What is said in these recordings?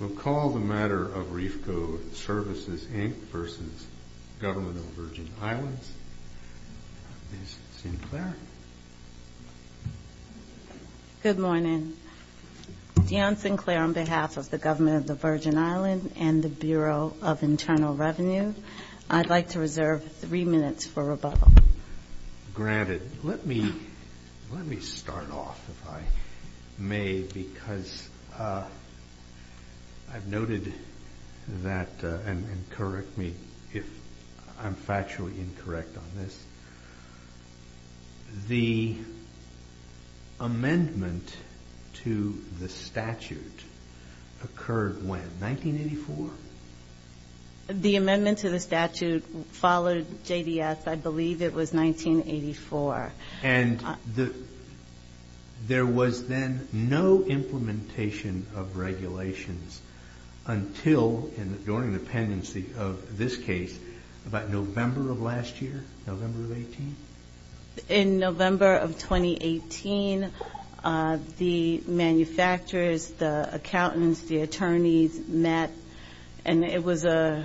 We'll call the matter of Reefco Services, Inc. v. Government of the Virgin Islands. Ms. Sinclair. Good morning. Dionne Sinclair on behalf of the Government of the Virgin Islands and the Bureau of Internal Revenue. I'd like to reserve three minutes for rebuttal. Granted, let me start off, if I may, because I've noted that, and correct me if I'm factually incorrect on this, the amendment to the statute occurred when? 1984? The amendment to the statute followed JDS, I believe it was 1984. And there was then no implementation of regulations until, during the pendency of this case, about November of last year? November of 18? In November of 2018, the manufacturers, the accountants, the attorneys met, and it was a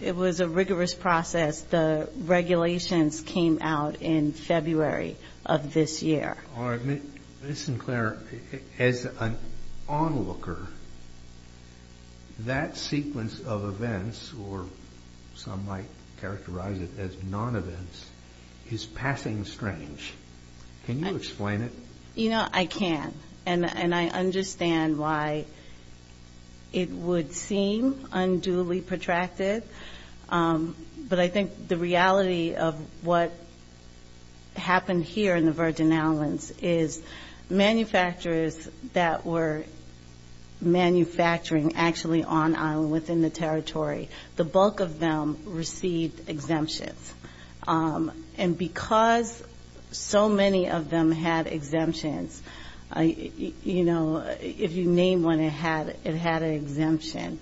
rigorous process. The regulations came out in February of this year. Ms. Sinclair, as an onlooker, that sequence of events, or some might characterize it as non-events, is passing strange. Can you explain it? You know, I can't. And I understand why it would seem unduly protracted. But I think the reality of what happened here in the Virgin Islands is manufacturers that were manufacturing actually on island, within the territory, the bulk of them received exemptions. And because so many of them had exemptions, you know, if you name one, it had an exemption.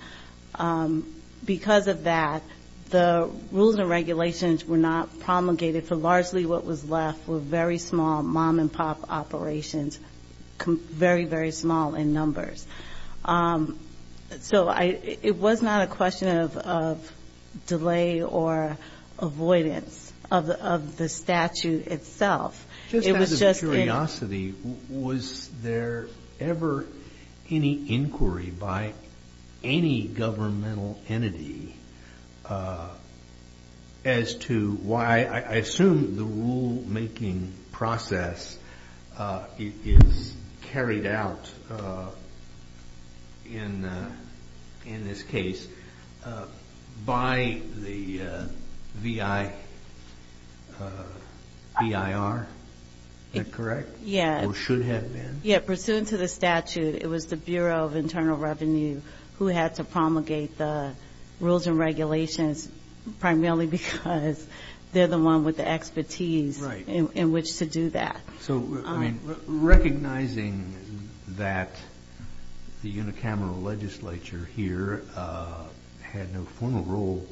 Because of that, the rules and regulations were not promulgated for largely what was left were very small mom-and-pop operations, very, very small in numbers. So it was not a question of delay or avoidance of the statute itself. It was just that... Just out of curiosity, was there ever any inquiry by any governmental entity as to why, I assume, the rule-making process is carried out in this case by the VIR? Is that correct? Or should have been? Yeah. Pursuant to the statute, it was the Bureau of Internal Revenue who had to promulgate the rules and regulations, primarily because they're the one with the expertise in which to do that. So, recognizing that the unicameral legislature here had no formal role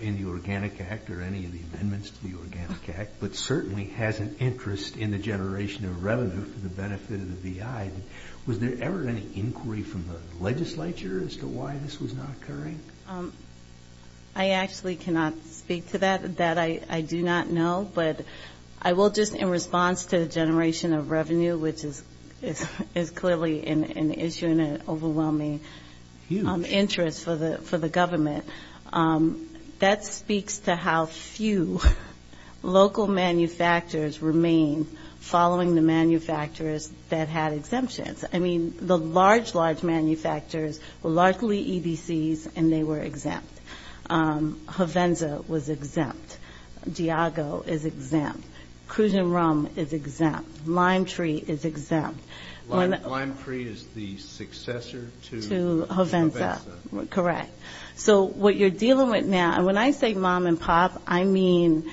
in the Organic Act or any of the amendments to the Organic Act, but certainly has an interest in the generation of revenue for the benefit of the VI, was there ever any inquiry from the legislature as to why this was not occurring? I actually cannot speak to that. That I do not know. But I will just, in response to the generation of revenue, which is clearly an issue and an overwhelming interest for the government, that speaks to how few local manufacturers remain following the manufacturers that had exemptions. I mean, the large, large manufacturers were largely EDCs, and they were exempt. Hovenza was exempt. Diago is exempt. Cruz & Rum is exempt. LimeTree is exempt. LimeTree is the successor to Hovenza. To Hovenza. Correct. So what you're dealing with now, and when I say mom and pop, I mean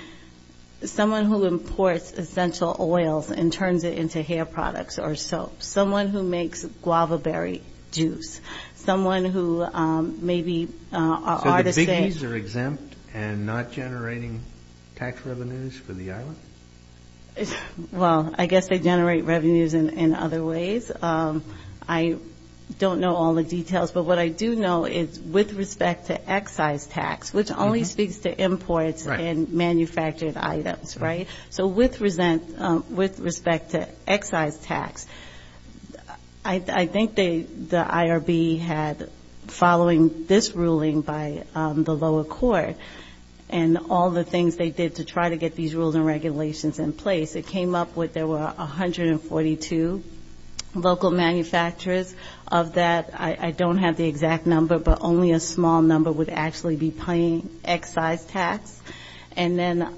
someone who imports essential oils and turns it into hair products or soap. Someone who makes guava berry juice. Someone who maybe are the same. So the biggies are exempt and not generating tax revenues for the island? Well, I guess they generate revenues in other ways. I don't know all the details, but what I do know is with respect to excise tax, which only speaks to imports and manufactured items, right? So with respect to excise tax, I think the IRB had, following this ruling by the lower court, and all the things they did to try to get these rules and regulations in place, it came up with, there were 142 local manufacturers. Of that, I don't have the exact number, but only a small number would actually be paying excise tax. And then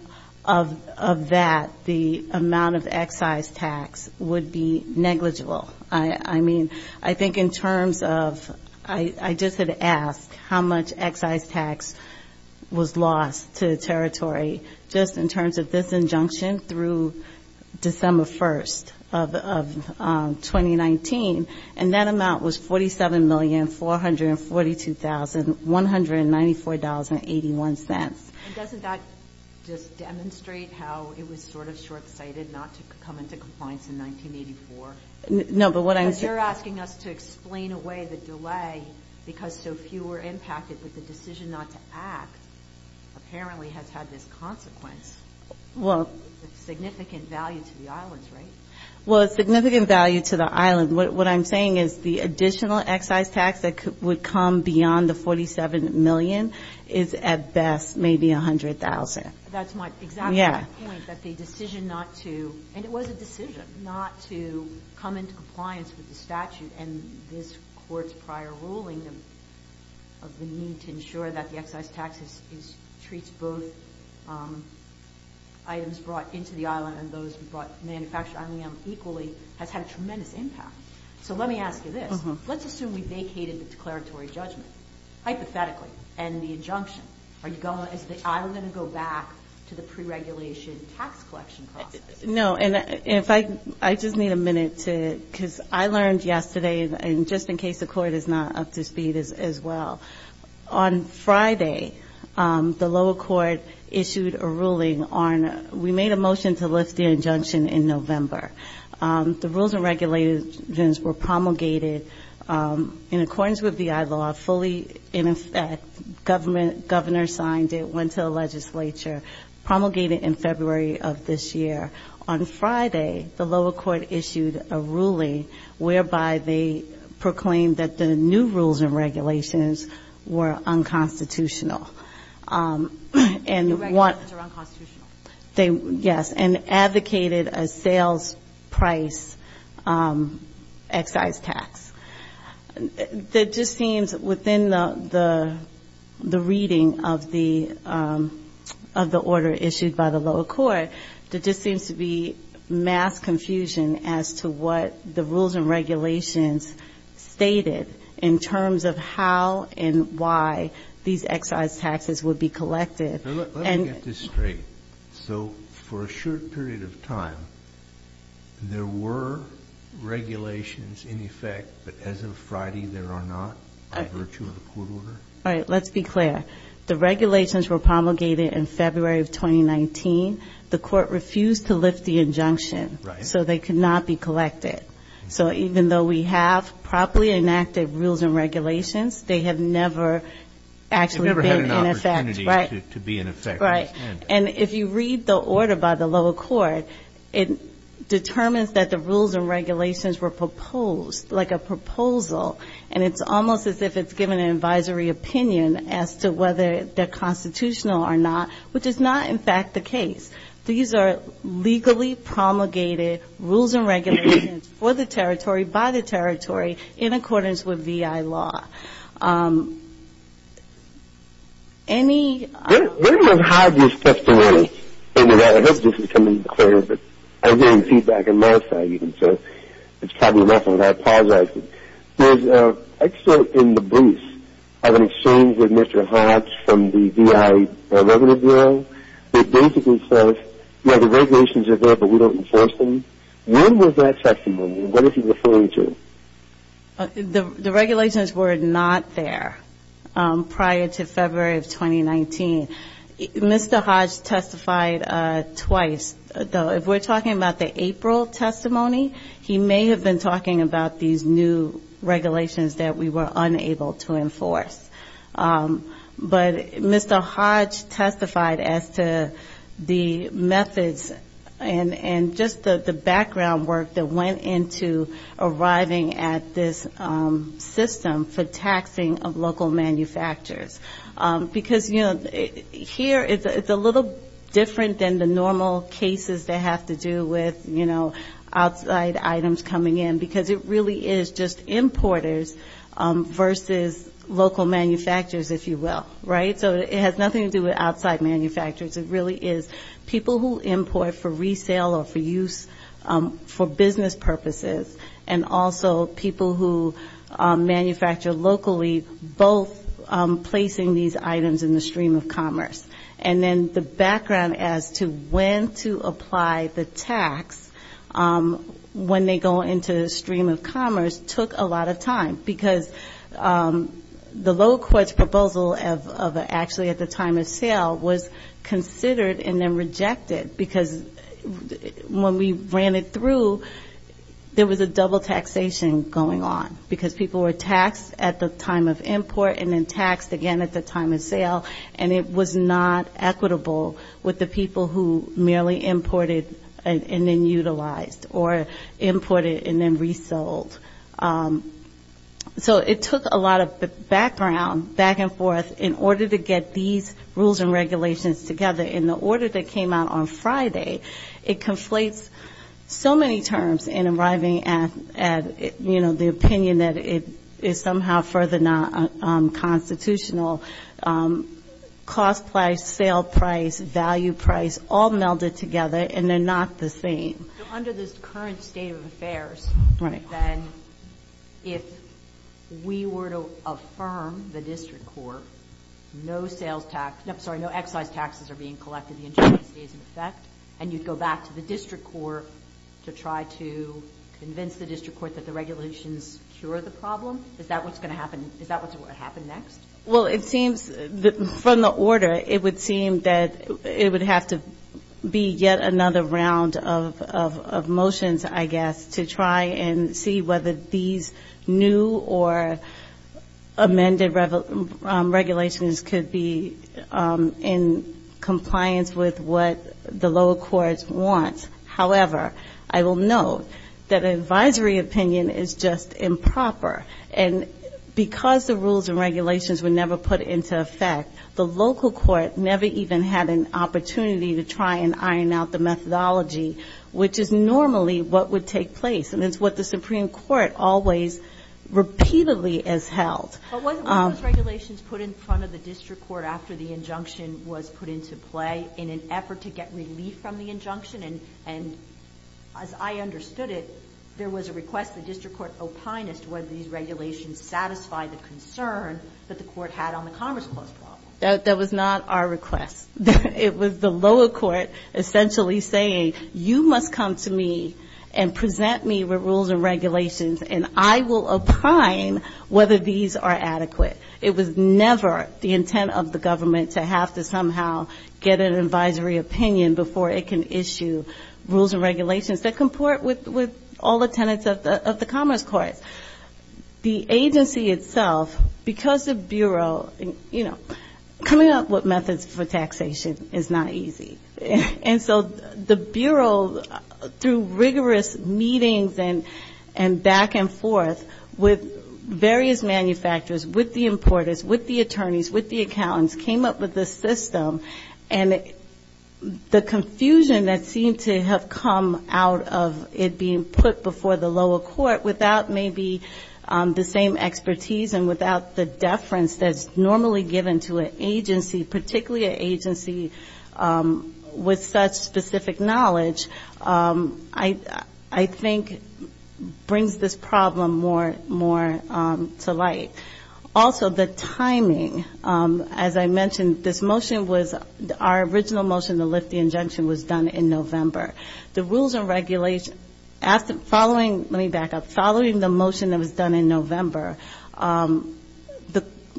of that, I don't have the exact number, but only a small number would actually be paying excise tax. So I don't think that the amount of excise tax would be negligible. I mean, I think in terms of, I just had asked how much excise tax was lost to the territory, just in terms of this injunction through December 1st of 2019, and that amount was $47,442,194.81. And doesn't that just demonstrate how it was sort of short-sighted not to come into compliance in 1984? Because you're asking us to explain away the delay because so few were impacted, but the decision not to act apparently has had this consequence. It's significant value to the islands, right? Well, it's significant value to the islands. What I'm saying is the additional excise tax that would come beyond the $47 million is, at best, negligible. At best, maybe $100,000. That's my exact point, that the decision not to, and it was a decision not to come into compliance with the statute, and this Court's prior ruling of the need to ensure that the excise tax treats both items brought into the island and those brought manufactured on the island equally has had a tremendous impact. So let me ask you this. Let's assume we vacated the declaratory judgment, hypothetically, and the injunction. Are you going, is the island going to go back to the pre-regulation tax collection process? No, and if I, I just need a minute to, because I learned yesterday, and just in case the Court is not up to speed as well, on Friday, the lower court issued a ruling on, we made a motion to lift the injunction in November. The rules and regulations were promulgated in accordance with VI law, fully, in effect, governor signed it, went to the legislature, promulgated in February of this year. On Friday, the lower court issued a ruling whereby they proclaimed that the new rules and regulations were unconstitutional. And one, they, yes, and advocated a sales price excise tax. That just seems, within the, the reading of the, of the order issued by the lower court, that just seems to be mass confusion as to what the rules and regulations stated in terms of how and why these excise taxes are unconstitutional. So, let me get this straight. So, for a short period of time, there were regulations in effect, but as of Friday, there are not, by virtue of the court order? Right, let's be clear. The regulations were promulgated in February of 2019. The Court refused to lift the injunction. In effect, right. And if you read the order by the lower court, it determines that the rules and regulations were proposed, like a proposal, and it's almost as if it's given an advisory opinion as to whether they're constitutional or not, which is not, in fact, the case. These are legally promulgated rules and regulations for the territory, by the territory, in accordance with VI law. When was Hodge's testimony? I mean, I hope this is coming clear, but I'm getting feedback on my side, even, so it's probably enough, and I apologize. There's an excerpt in the brief of an exchange with Mr. Hodge from the VI Revenue Bureau that basically says, well, the regulations are there, but we don't enforce them. When was that testimony? What is he referring to? The regulations were not there prior to February of 2019. Mr. Hodge testified twice, though. If we're talking about the April testimony, he may have been talking about these new regulations that we were unable to enforce. But Mr. Hodge testified as to the methods and just the background work that went into arriving at these new regulations. And if I may, I think we need to look at this system for taxing of local manufacturers. Because, you know, here it's a little different than the normal cases that have to do with, you know, outside items coming in, because it really is just importers versus local manufacturers, if you will. Right? So it has nothing to do with outside manufacturers. It really is people who import for resale or for use, for business purposes, and also people who actually work for the local sector. People who manufacture locally, both placing these items in the stream of commerce. And then the background as to when to apply the tax when they go into the stream of commerce took a lot of time. Because the local court's proposal of actually at the time of sale was considered and then rejected, because when we ran it through, there was a double taxation. Because people were taxed at the time of import and then taxed again at the time of sale, and it was not equitable with the people who merely imported and then utilized, or imported and then resold. So it took a lot of background, back and forth, in order to get these rules and regulations together. And the order that came out on Friday, it conflates so many terms in arriving at, you know, the rules and regulations. You know, the opinion that it is somehow further not constitutional. Cost price, sale price, value price, all melded together, and they're not the same. Under this current state of affairs, then, if we were to affirm the district court, no sales tax, no, I'm sorry, no excise taxes are being collected, the injustice is in effect. And you'd go back to the district court to try to convince the district court that the regulations cure the problem? Is that what's going to happen? Is that what's going to happen next? Well, it seems, from the order, it would seem that it would have to be yet another round of motions, I guess, to try and see whether these new or amended regulations could be in compliance with what the local court has proposed. And I don't know what the local courts want. However, I will note that advisory opinion is just improper. And because the rules and regulations were never put into effect, the local court never even had an opportunity to try and iron out the methodology, which is normally what would take place. And it's what the Supreme Court always repeatedly has held. But wasn't one of those regulations put in front of the district court after the injunction was put into play in an effort to get relief from the injunction? And as I understood it, there was a request the district court opined as to whether these regulations satisfied the concern that the court had on the Commerce Clause problem. That was not our request. It was the lower court essentially saying, you must come to me and present me with rules and regulations, and I will opine whether these are in compliance with the Commerce Clause. And it was not our request. It was never the intent of the government to have to somehow get an advisory opinion before it can issue rules and regulations that comport with all the tenants of the Commerce Clause. The agency itself, because the Bureau, you know, coming up with methods for taxation is not easy. And so the Bureau, through rigorous meetings and back and forth with various manufacturers, has been very careful not to do that. With the importers, with the attorneys, with the accountants, came up with this system, and the confusion that seemed to have come out of it being put before the lower court without maybe the same expertise and without the deference that's normally given to an agency, particularly an agency with such specific knowledge, I think brings this problem more to light. Also, the timing, as I mentioned, this motion was, our original motion to lift the injunction was done in November. The rules and regulations, following, let me back up, following the motion that was done in November,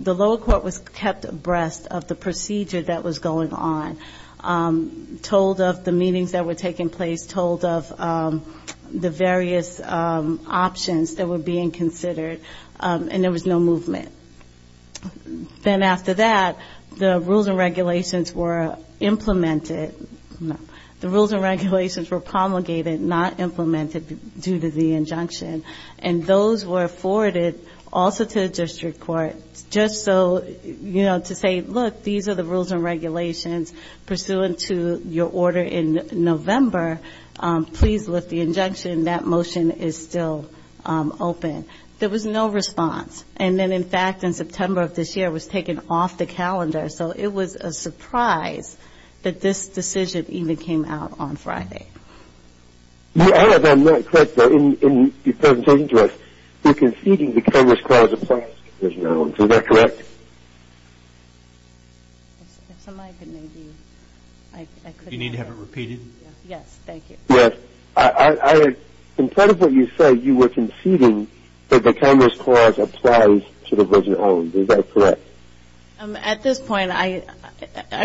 the lower court was kept abreast of the procedure that was going on, told of the meetings that were taking place, told of the various options that were being considered, and there was no movement. Then after that, the rules and regulations were implemented, the rules and regulations were promulgated, not implemented due to the injunction, and those were forwarded also to the district court, just so, you know, to say, look, these are the rules and regulations pursuant to your order in November, please lift the injunction, that motion is still open. There was no response, and then, in fact, in September of this year, it was taken off the calendar, so it was a surprise that this decision even came out on Friday. You have, I'm not quite sure, in your presentation to us, you're conceding because this clause applies to this now, is that correct? If somebody could maybe, I could. Do you need to have it repeated? Yes, thank you. Yes, I had, in part of what you said, you were conceding that the Congress clause applies to the version owned, is that correct? At this point, I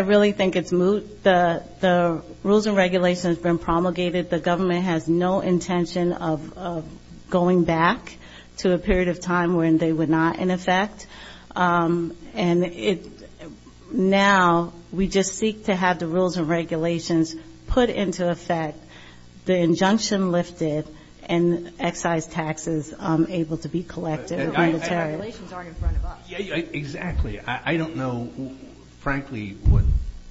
really think it's moot. The rules and regulations have been promulgated. The government has no intention of going back to a period of time when they were not in effect. And now we just seek to have the rules and regulations put into effect, the injunction lifted, and excise taxes able to be collected. The regulations aren't in front of us. Exactly. I don't know, frankly, what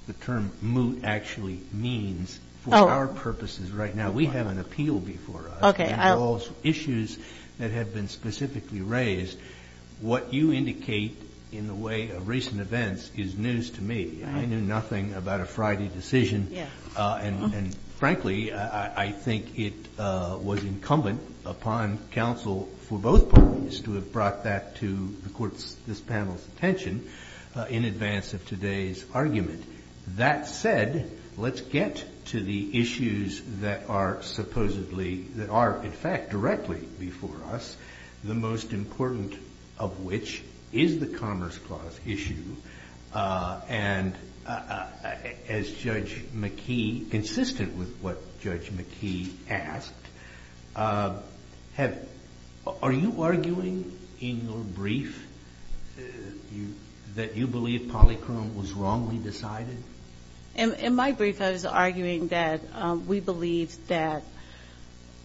the term moot actually means for our purposes right now. We have an appeal before us. It involves issues that have been specifically raised. What you indicate in the way of recent events is news to me. I knew nothing about a Friday decision. And frankly, I think it was incumbent upon counsel for both parties to have brought that to the court's, this panel's attention in advance of today's argument. That said, let's get to the issues that are supposedly, that are in fact directly before us, the most important of which is the Commerce Clause issue. And as Judge McKee, consistent with what Judge McKee asked, have, are you arguing in your brief that you believe polychrome was wrongly decided? In my brief, I was arguing that we believe that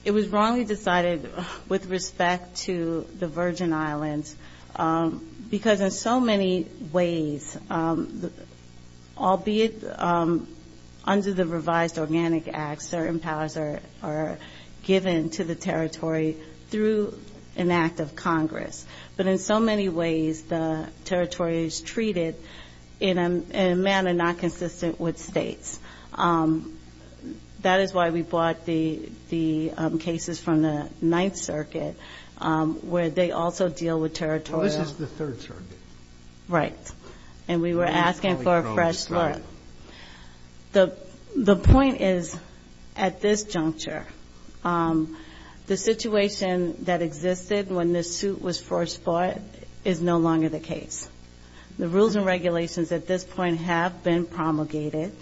it was wrongly decided with respect to the Virgin Islands, because in so many ways, it was wrongly decided with respect to the Virgin Islands, albeit under the revised Organic Act, certain powers are given to the territory through an act of Congress. But in so many ways, the territory is treated in a manner not consistent with states. That is why we brought the cases from the Ninth Circuit, where they also deal with territorial... The point is, at this juncture, the situation that existed when this suit was first brought is no longer the case. The rules and regulations at this point have been promulgated.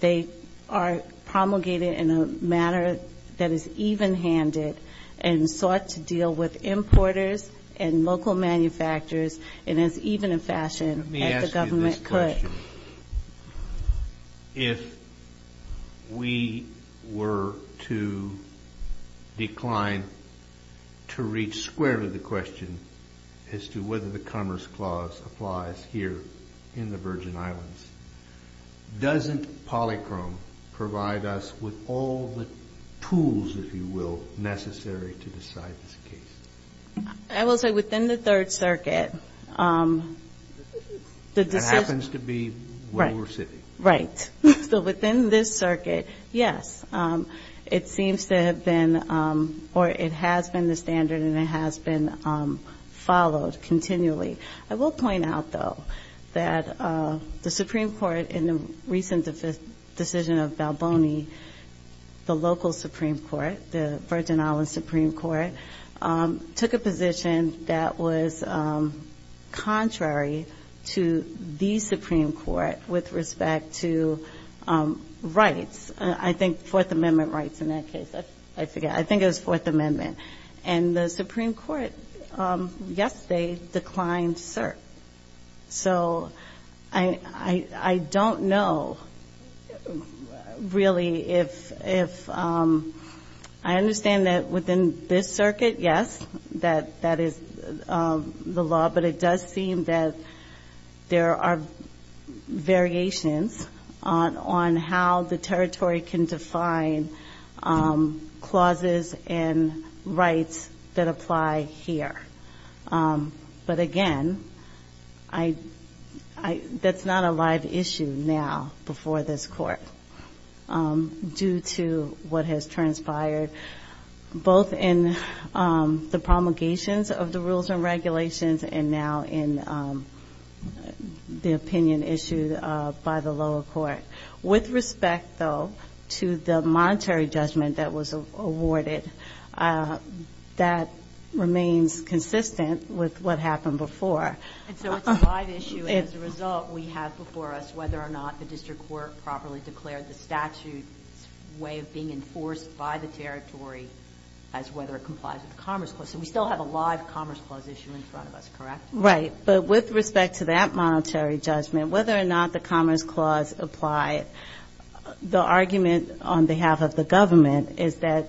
They are promulgated in a manner that is even-handed and sought to deal with importers and local manufacturers in as even a fashion as the government could. If we were to decline to reach squarely the question as to whether the Commerce Clause applies here in the Virgin Islands, doesn't polychrome provide us with all the tools, if you will, necessary to decide this case? I will say within the Third Circuit, the decision... Right. So within this circuit, yes, it seems to have been or it has been the standard and it has been followed continually. I will point out, though, that the Supreme Court in the recent decision of Balboni, the local Supreme Court, the Virgin Islands Supreme Court, took a position that was contrary to the Supreme Court with respect to rights. I think Fourth Amendment rights in that case. I forget. I think it was Fourth Amendment. And the Supreme Court, yes, they declined cert. So I don't know, really, if... I understand that within this circuit, yes, that that is the law, but it does seem that there are variations on how the territory can define clauses and rights that apply here. But again, that's not a live issue now before this Court due to what has transpired in the past. Both in the promulgations of the rules and regulations and now in the opinion issued by the lower court. With respect, though, to the monetary judgment that was awarded, that remains consistent with what happened before. And so it's a live issue. As a result, we have before us whether or not the district court properly declared the statute's way of being enforced by the territory. As whether it complies with the Commerce Clause. So we still have a live Commerce Clause issue in front of us, correct? Right. But with respect to that monetary judgment, whether or not the Commerce Clause applied, the argument on behalf of the government is that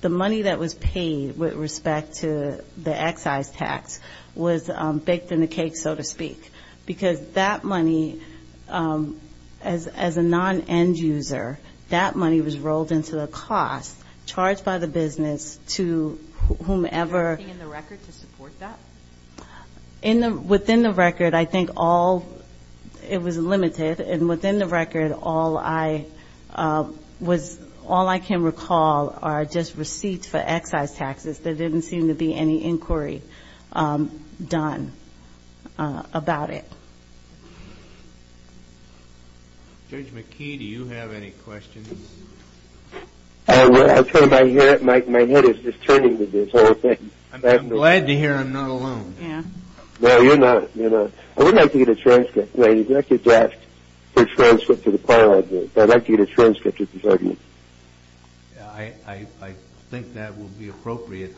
the money that was paid with respect to the excise tax was baked in the cake, so to speak. Because that money, as a non-end user, that money was rolled into the cost, and that money was paid to the district court. And that money was charged by the business to whomever... Is there anything in the record to support that? Within the record, I think all of it was limited. And within the record, all I can recall are just receipts for excise taxes. There didn't seem to be any inquiry done about it. Judge McKee, do you have any questions? I'm glad to hear I'm not alone. No, you're not. I would like to get a transcript. I'd like to get a transcript of this argument. I think that would be appropriate.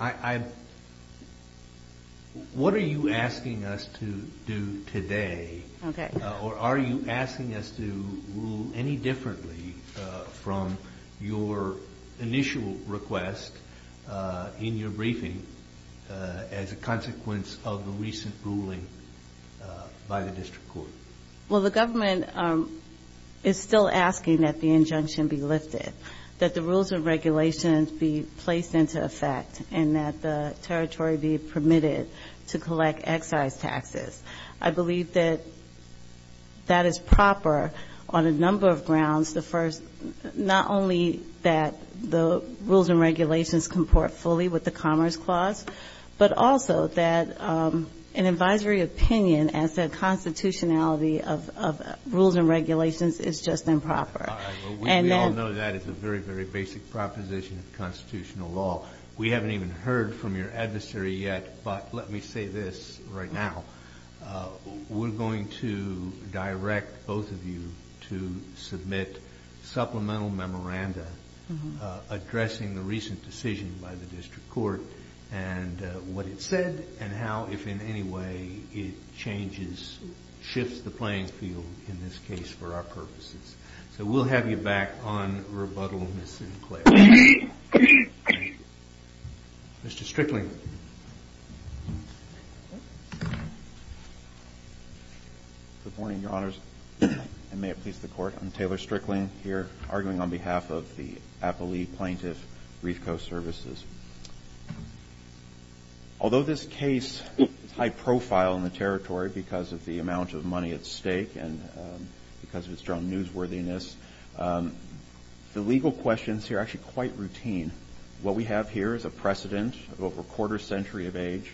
What are you asking us to do today? Okay. Or are you asking us to rule any differently from your initial request in your briefing as a consequence of the recent ruling by the district court? Well, the government is still asking that the injunction be lifted, that the rules and regulations be placed into effect. And that the territory be permitted to collect excise taxes. I believe that that is proper on a number of grounds. The first, not only that the rules and regulations comport fully with the Commerce Clause, but also that an advisory opinion as to the constitutionality of rules and regulations is just improper. We all know that is a very, very basic proposition of constitutional law. We haven't even heard from your adversary yet, but let me say this right now. We're going to direct both of you to submit supplemental memoranda addressing the recent decision by the district court and what it said and how, if in any way, it changes, shifts the playing field in this case for our purposes. So we'll have you back on rebuttal, Ms. Sinclair. Mr. Strickling. Good morning, Your Honors, and may it please the Court. I'm Taylor Strickling here arguing on behalf of the Appalachian Plaintiff Reef Coast Services. Although this case is high profile in the territory because of the amount of money at stake and because of its strong newsworthiness, the legal questions here are actually quite routine. What we have here is a precedent of over a quarter century of age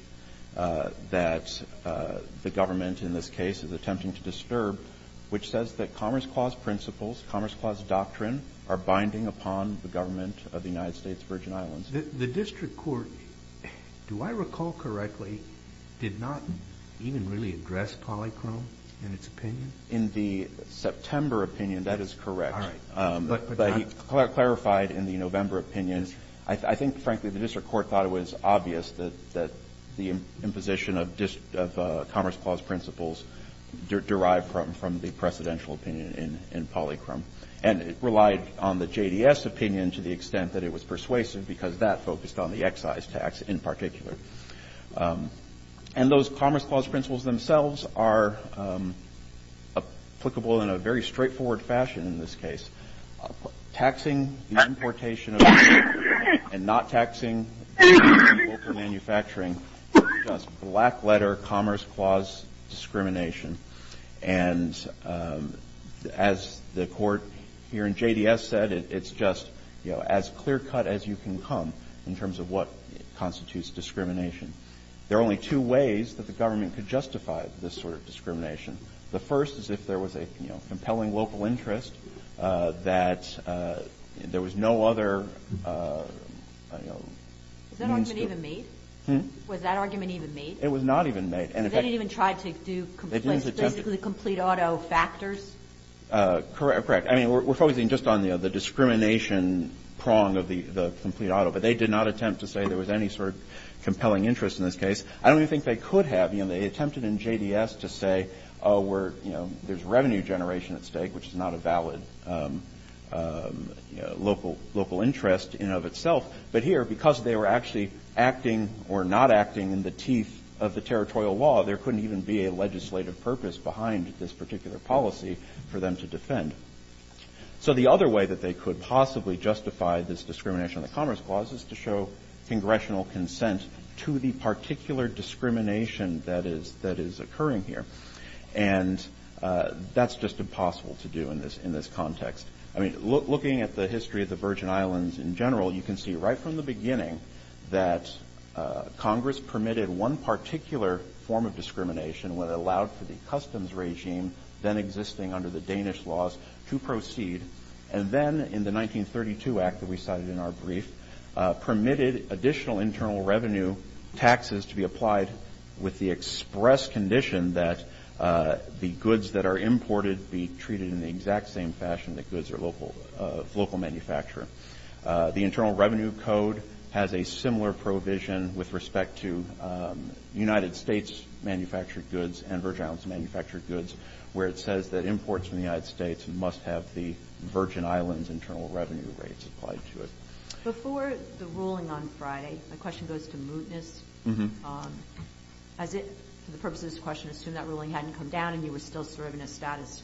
that the government in this case is attempting to disturb, which says that Commerce Clause principles, Commerce Clause doctrine, are binding upon the government of the United States of the Virgin Islands. The district court, do I recall correctly, did not even really address polychrome in its opinion? In the September opinion, yes. In the November opinion, that is correct. But he clarified in the November opinion. I think, frankly, the district court thought it was obvious that the imposition of Commerce Clause principles derived from the precedential opinion in polychrome. And it relied on the JDS opinion to the extent that it was persuasive because that focused on the excise tax in particular. And those Commerce Clause principles themselves are applicable in a very straightforward fashion in this case. Taxing the importation and not taxing local manufacturing is just black letter Commerce Clause discrimination. And as the court here in JDS said, it's just as clear cut as you can come in terms of what constitutes discrimination. There are only two ways that the government could justify this sort of discrimination. The first is if there was a, you know, compelling local interest that there was no other, you know, means to. Was that argument even made? It was not even made. They didn't even try to do basically complete auto factors? Correct. I mean, we're focusing just on the discrimination prong of the complete auto, but they did not attempt to say there was any sort of compelling interest in this case. I don't even think they could have. I mean, they attempted in JDS to say, oh, we're, you know, there's revenue generation at stake, which is not a valid local interest in of itself. But here, because they were actually acting or not acting in the teeth of the territorial law, there couldn't even be a legislative purpose behind this particular policy for them to defend. So the other way that they could possibly justify this discrimination of the Commerce Clause is to show that there is a particular discrimination that is occurring here. And that's just impossible to do in this context. I mean, looking at the history of the Virgin Islands in general, you can see right from the beginning that Congress permitted one particular form of discrimination when it allowed for the customs regime, then existing under the Danish laws, to proceed. And then in the 1932 Act that we cited in our brief, permitted additional internal revenue taxes to be applied with the express condition that the goods that are imported be treated in the exact same fashion that goods are local manufactured. The Internal Revenue Code has a similar provision with respect to United States manufactured goods and Virgin Islands manufactured goods, where it says that imports from the United States must have the Virgin Islands internal revenue rates applied to it. Before the ruling on Friday, my question goes to mootness. For the purposes of this question, assume that ruling hadn't come down and you were still serving a status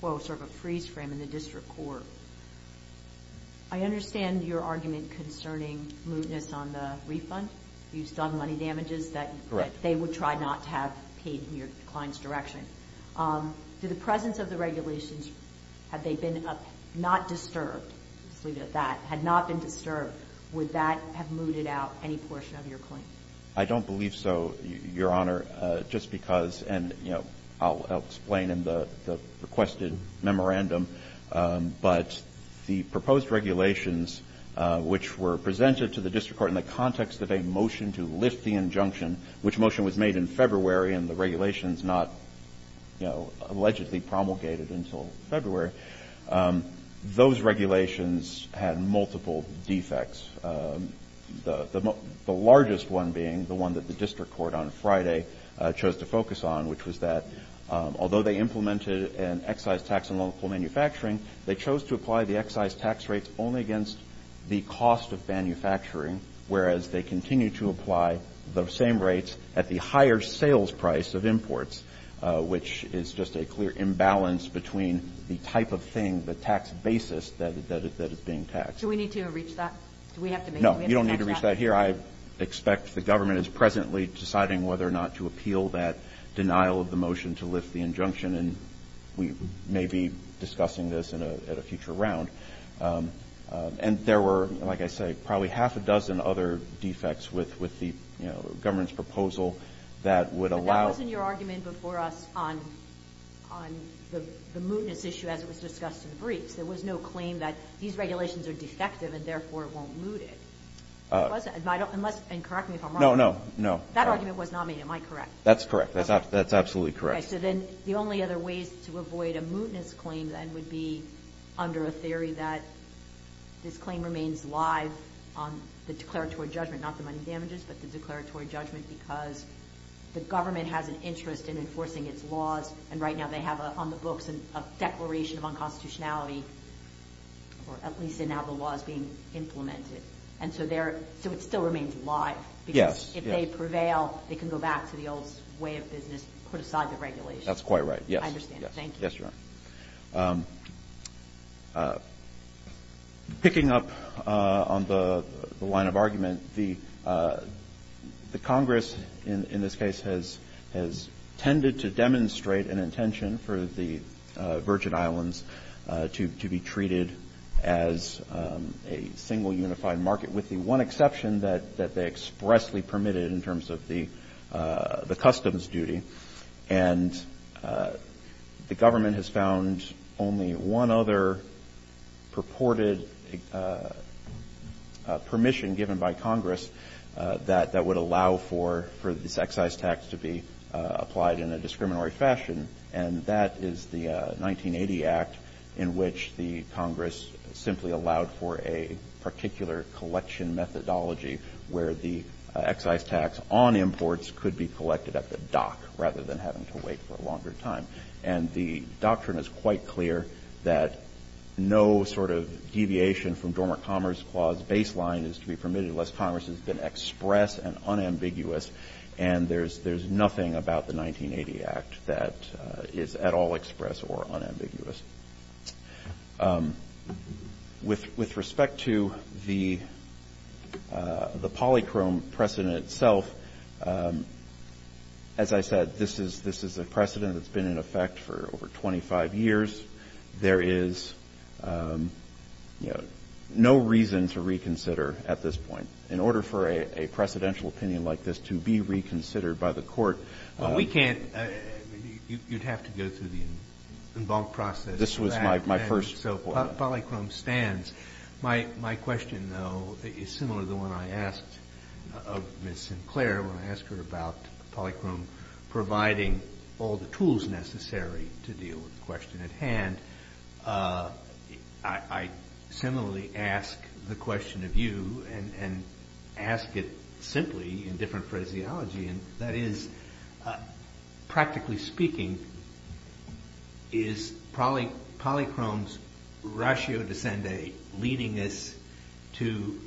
quo, sort of a freeze frame in the district court. I understand your argument concerning mootness on the refund. You've done money damages that they would try not to have paid in your client's direction. Do the presence of the regulations, had they been not disturbed, let's leave it at that, had not been disturbed, would that have mooted out any portion of your claim? I don't believe so, Your Honor, just because, and, you know, I'll explain in the requested memorandum, but the proposed regulations which were presented to the district court in the context of a motion to lift the injunction, which motion was made in February and the regulations not, you know, allegedly promulgated until February, those regulations had multiple defects. The largest one being the one that the district court on Friday chose to focus on, which was that although they implemented an excise tax on local manufacturing, they chose to apply the excise tax rates only against the cost of manufacturing, whereas they continue to apply the same rates at the higher sales price of imports, which is just a clear imbalance between the type of thing, the tax basis that is being taxed. Do we need to reach that? Do we have to make it? I don't think we need to reach that here. I expect the government is presently deciding whether or not to appeal that denial of the motion to lift the injunction, and we may be discussing this at a future round. And there were, like I say, probably half a dozen other defects with the, you know, government's proposal that would allow. But that wasn't your argument before us on the mootness issue as it was discussed in the briefs. There was no claim that these regulations are defective and therefore won't moot it. It wasn't, unless, and correct me if I'm wrong. No, no, no. That argument was not made, am I correct? That's correct. That's absolutely correct. Okay, so then the only other ways to avoid a mootness claim then would be under a theory that this claim remains live on the declaratory judgment, not the money damages, but the declaratory judgment because the government has an interest in enforcing its laws, and right now they have on the books a declaration of unconstitutionality, or at least in how the law is being implemented. And so it still remains live because if they prevail, they can go back to the old way of business, put aside the regulations. That's quite right, yes. I understand. Thank you. Yes, Your Honor. Picking up on the line of argument, the Congress in this case has tended to demonstrate an intention for the Virgin Islands to be treated as a single unified market, with the one exception that they expressly permitted in terms of the customs duty. And the government has found only one other purported permission given by Congress that would allow for this excise tax to be applied in a discriminatory fashion. And that is the 1980 Act in which the Congress simply allowed for a particular collection methodology where the excise tax on imports could be collected at the dock rather than having to wait for a longer time. And the doctrine is quite clear that no sort of deviation from Dormant Commerce Clause baseline is to be permitted unless Congress has been express and unambiguous. And there's nothing about the 1980 Act that is at all express or unambiguous. With respect to the polychrome precedent itself, as I said, this is a precedent that's been in effect for over 25 years. There is, you know, no reason to reconsider at this point. In order for a precedential opinion like this to be reconsidered by the Court, we can't. You'd have to go through the en banc process. This was my first. So polychrome stands. My question, though, is similar to the one I asked of Ms. Sinclair when I asked her about polychrome providing all the tools necessary to deal with the question at hand. I similarly ask the question of you and ask it simply in different phraseology. And that is, practically speaking, is polychrome's ratio de sende leading us to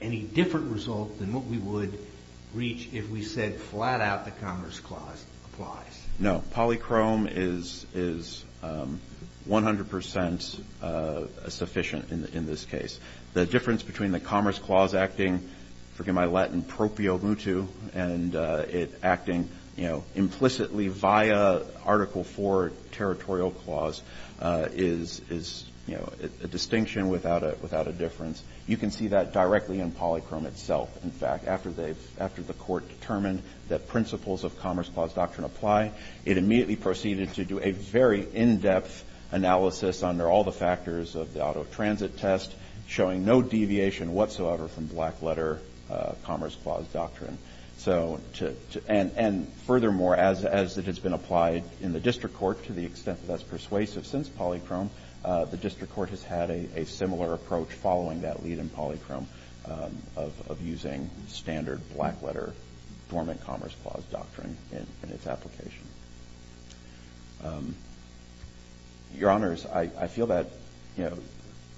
any different result than what we would reach if we said flat out the Commerce Clause applies? No. Polychrome is 100 percent sufficient in this case. The difference between the Commerce Clause acting, forgive my Latin, proprio mutu, and it acting, you know, implicitly via Article IV Territorial Clause is, you know, a distinction without a difference. You can see that directly in polychrome itself. In fact, after the Court determined that principles of Commerce Clause doctrine apply, it immediately proceeded to do a very in-depth analysis under all the factors of the auto transit test, showing no deviation whatsoever from black letter Commerce Clause doctrine. And furthermore, as it has been applied in the district court to the extent that that's persuasive since polychrome, the district court has had a similar approach following that lead in polychrome of using standard black letter dormant Commerce Clause doctrine in its application. Your Honors, I feel that, you know,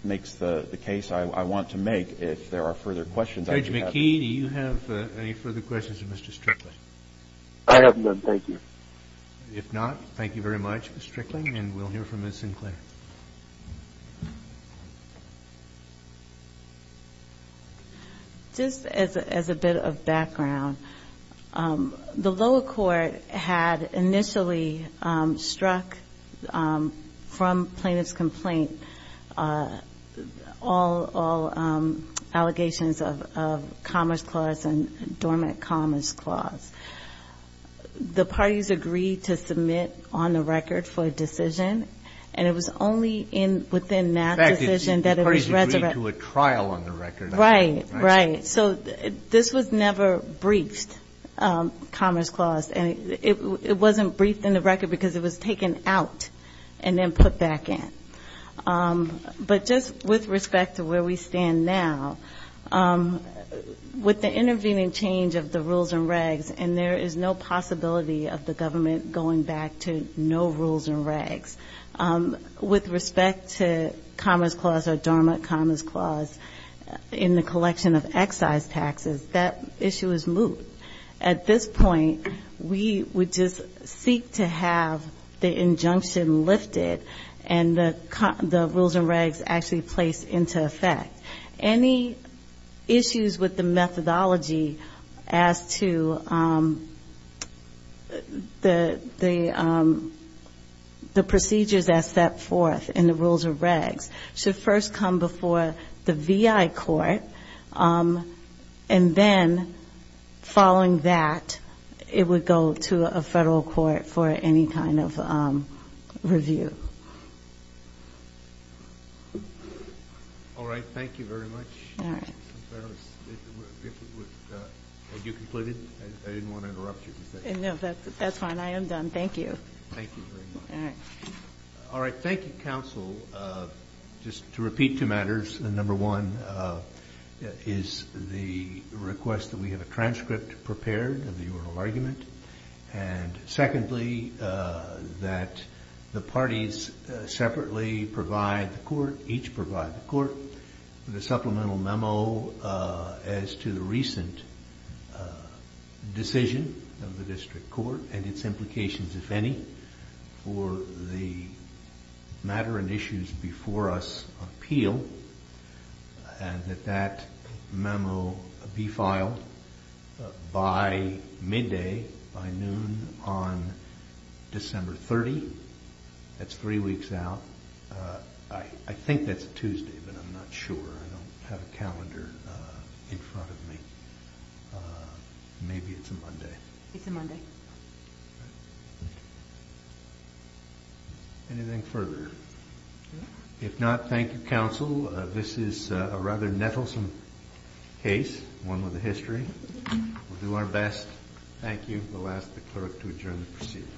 makes the case I want to make if there are further questions I should have. Judge McKee, do you have any further questions for Mr. Strickling? I have none. Thank you. If not, thank you very much, Mr. Strickling, and we'll hear from Ms. Sinclair. Ms. Sinclair. Just as a bit of background, the lower court had initially struck from plaintiff's complaint all allegations of Commerce Clause and dormant Commerce Clause. The parties agreed to submit on the record for a decision, and it was only within that decision that it was resurrected. In fact, the parties agreed to a trial on the record. Right, right. So this was never briefed, Commerce Clause, and it wasn't briefed in the record because it was taken out and then put back in. But just with respect to where we stand now, with the intervening change of the rules and regs, and there is no possibility of the government going back to no rules and regs, with respect to Commerce Clause or dormant Commerce Clause in the collection of excise taxes, that issue is moot. At this point, we would just seek to have the injunction lifted and the rules and regs actually placed into effect. Any issues with the methodology as to the procedures as set forth in the rules and regs should first come before the VI court, and then following that, it would go to a federal court for any kind of review. All right. Thank you very much. All right. If it was done. Had you completed? I didn't want to interrupt you. No, that's fine. I am done. Thank you. Thank you very much. All right. All right. Thank you, counsel. Just to repeat two matters. Number one is the request that we have a transcript prepared of the oral argument. Secondly, that the parties separately provide the court, each provide the court, with a supplemental memo as to the recent decision of the district court and its implications, if any, for the matter and issues before us appeal, and that that memo be filed by midday, by noon, on December 30. That's three weeks out. I think that's Tuesday, but I'm not sure. I don't have a calendar in front of me. Maybe it's a Monday. It's a Monday. Anything further? No. If not, thank you, counsel. This is a rather nettlesome case, one with a history. We'll do our best. Thank you. We'll ask the clerk to adjourn the proceedings.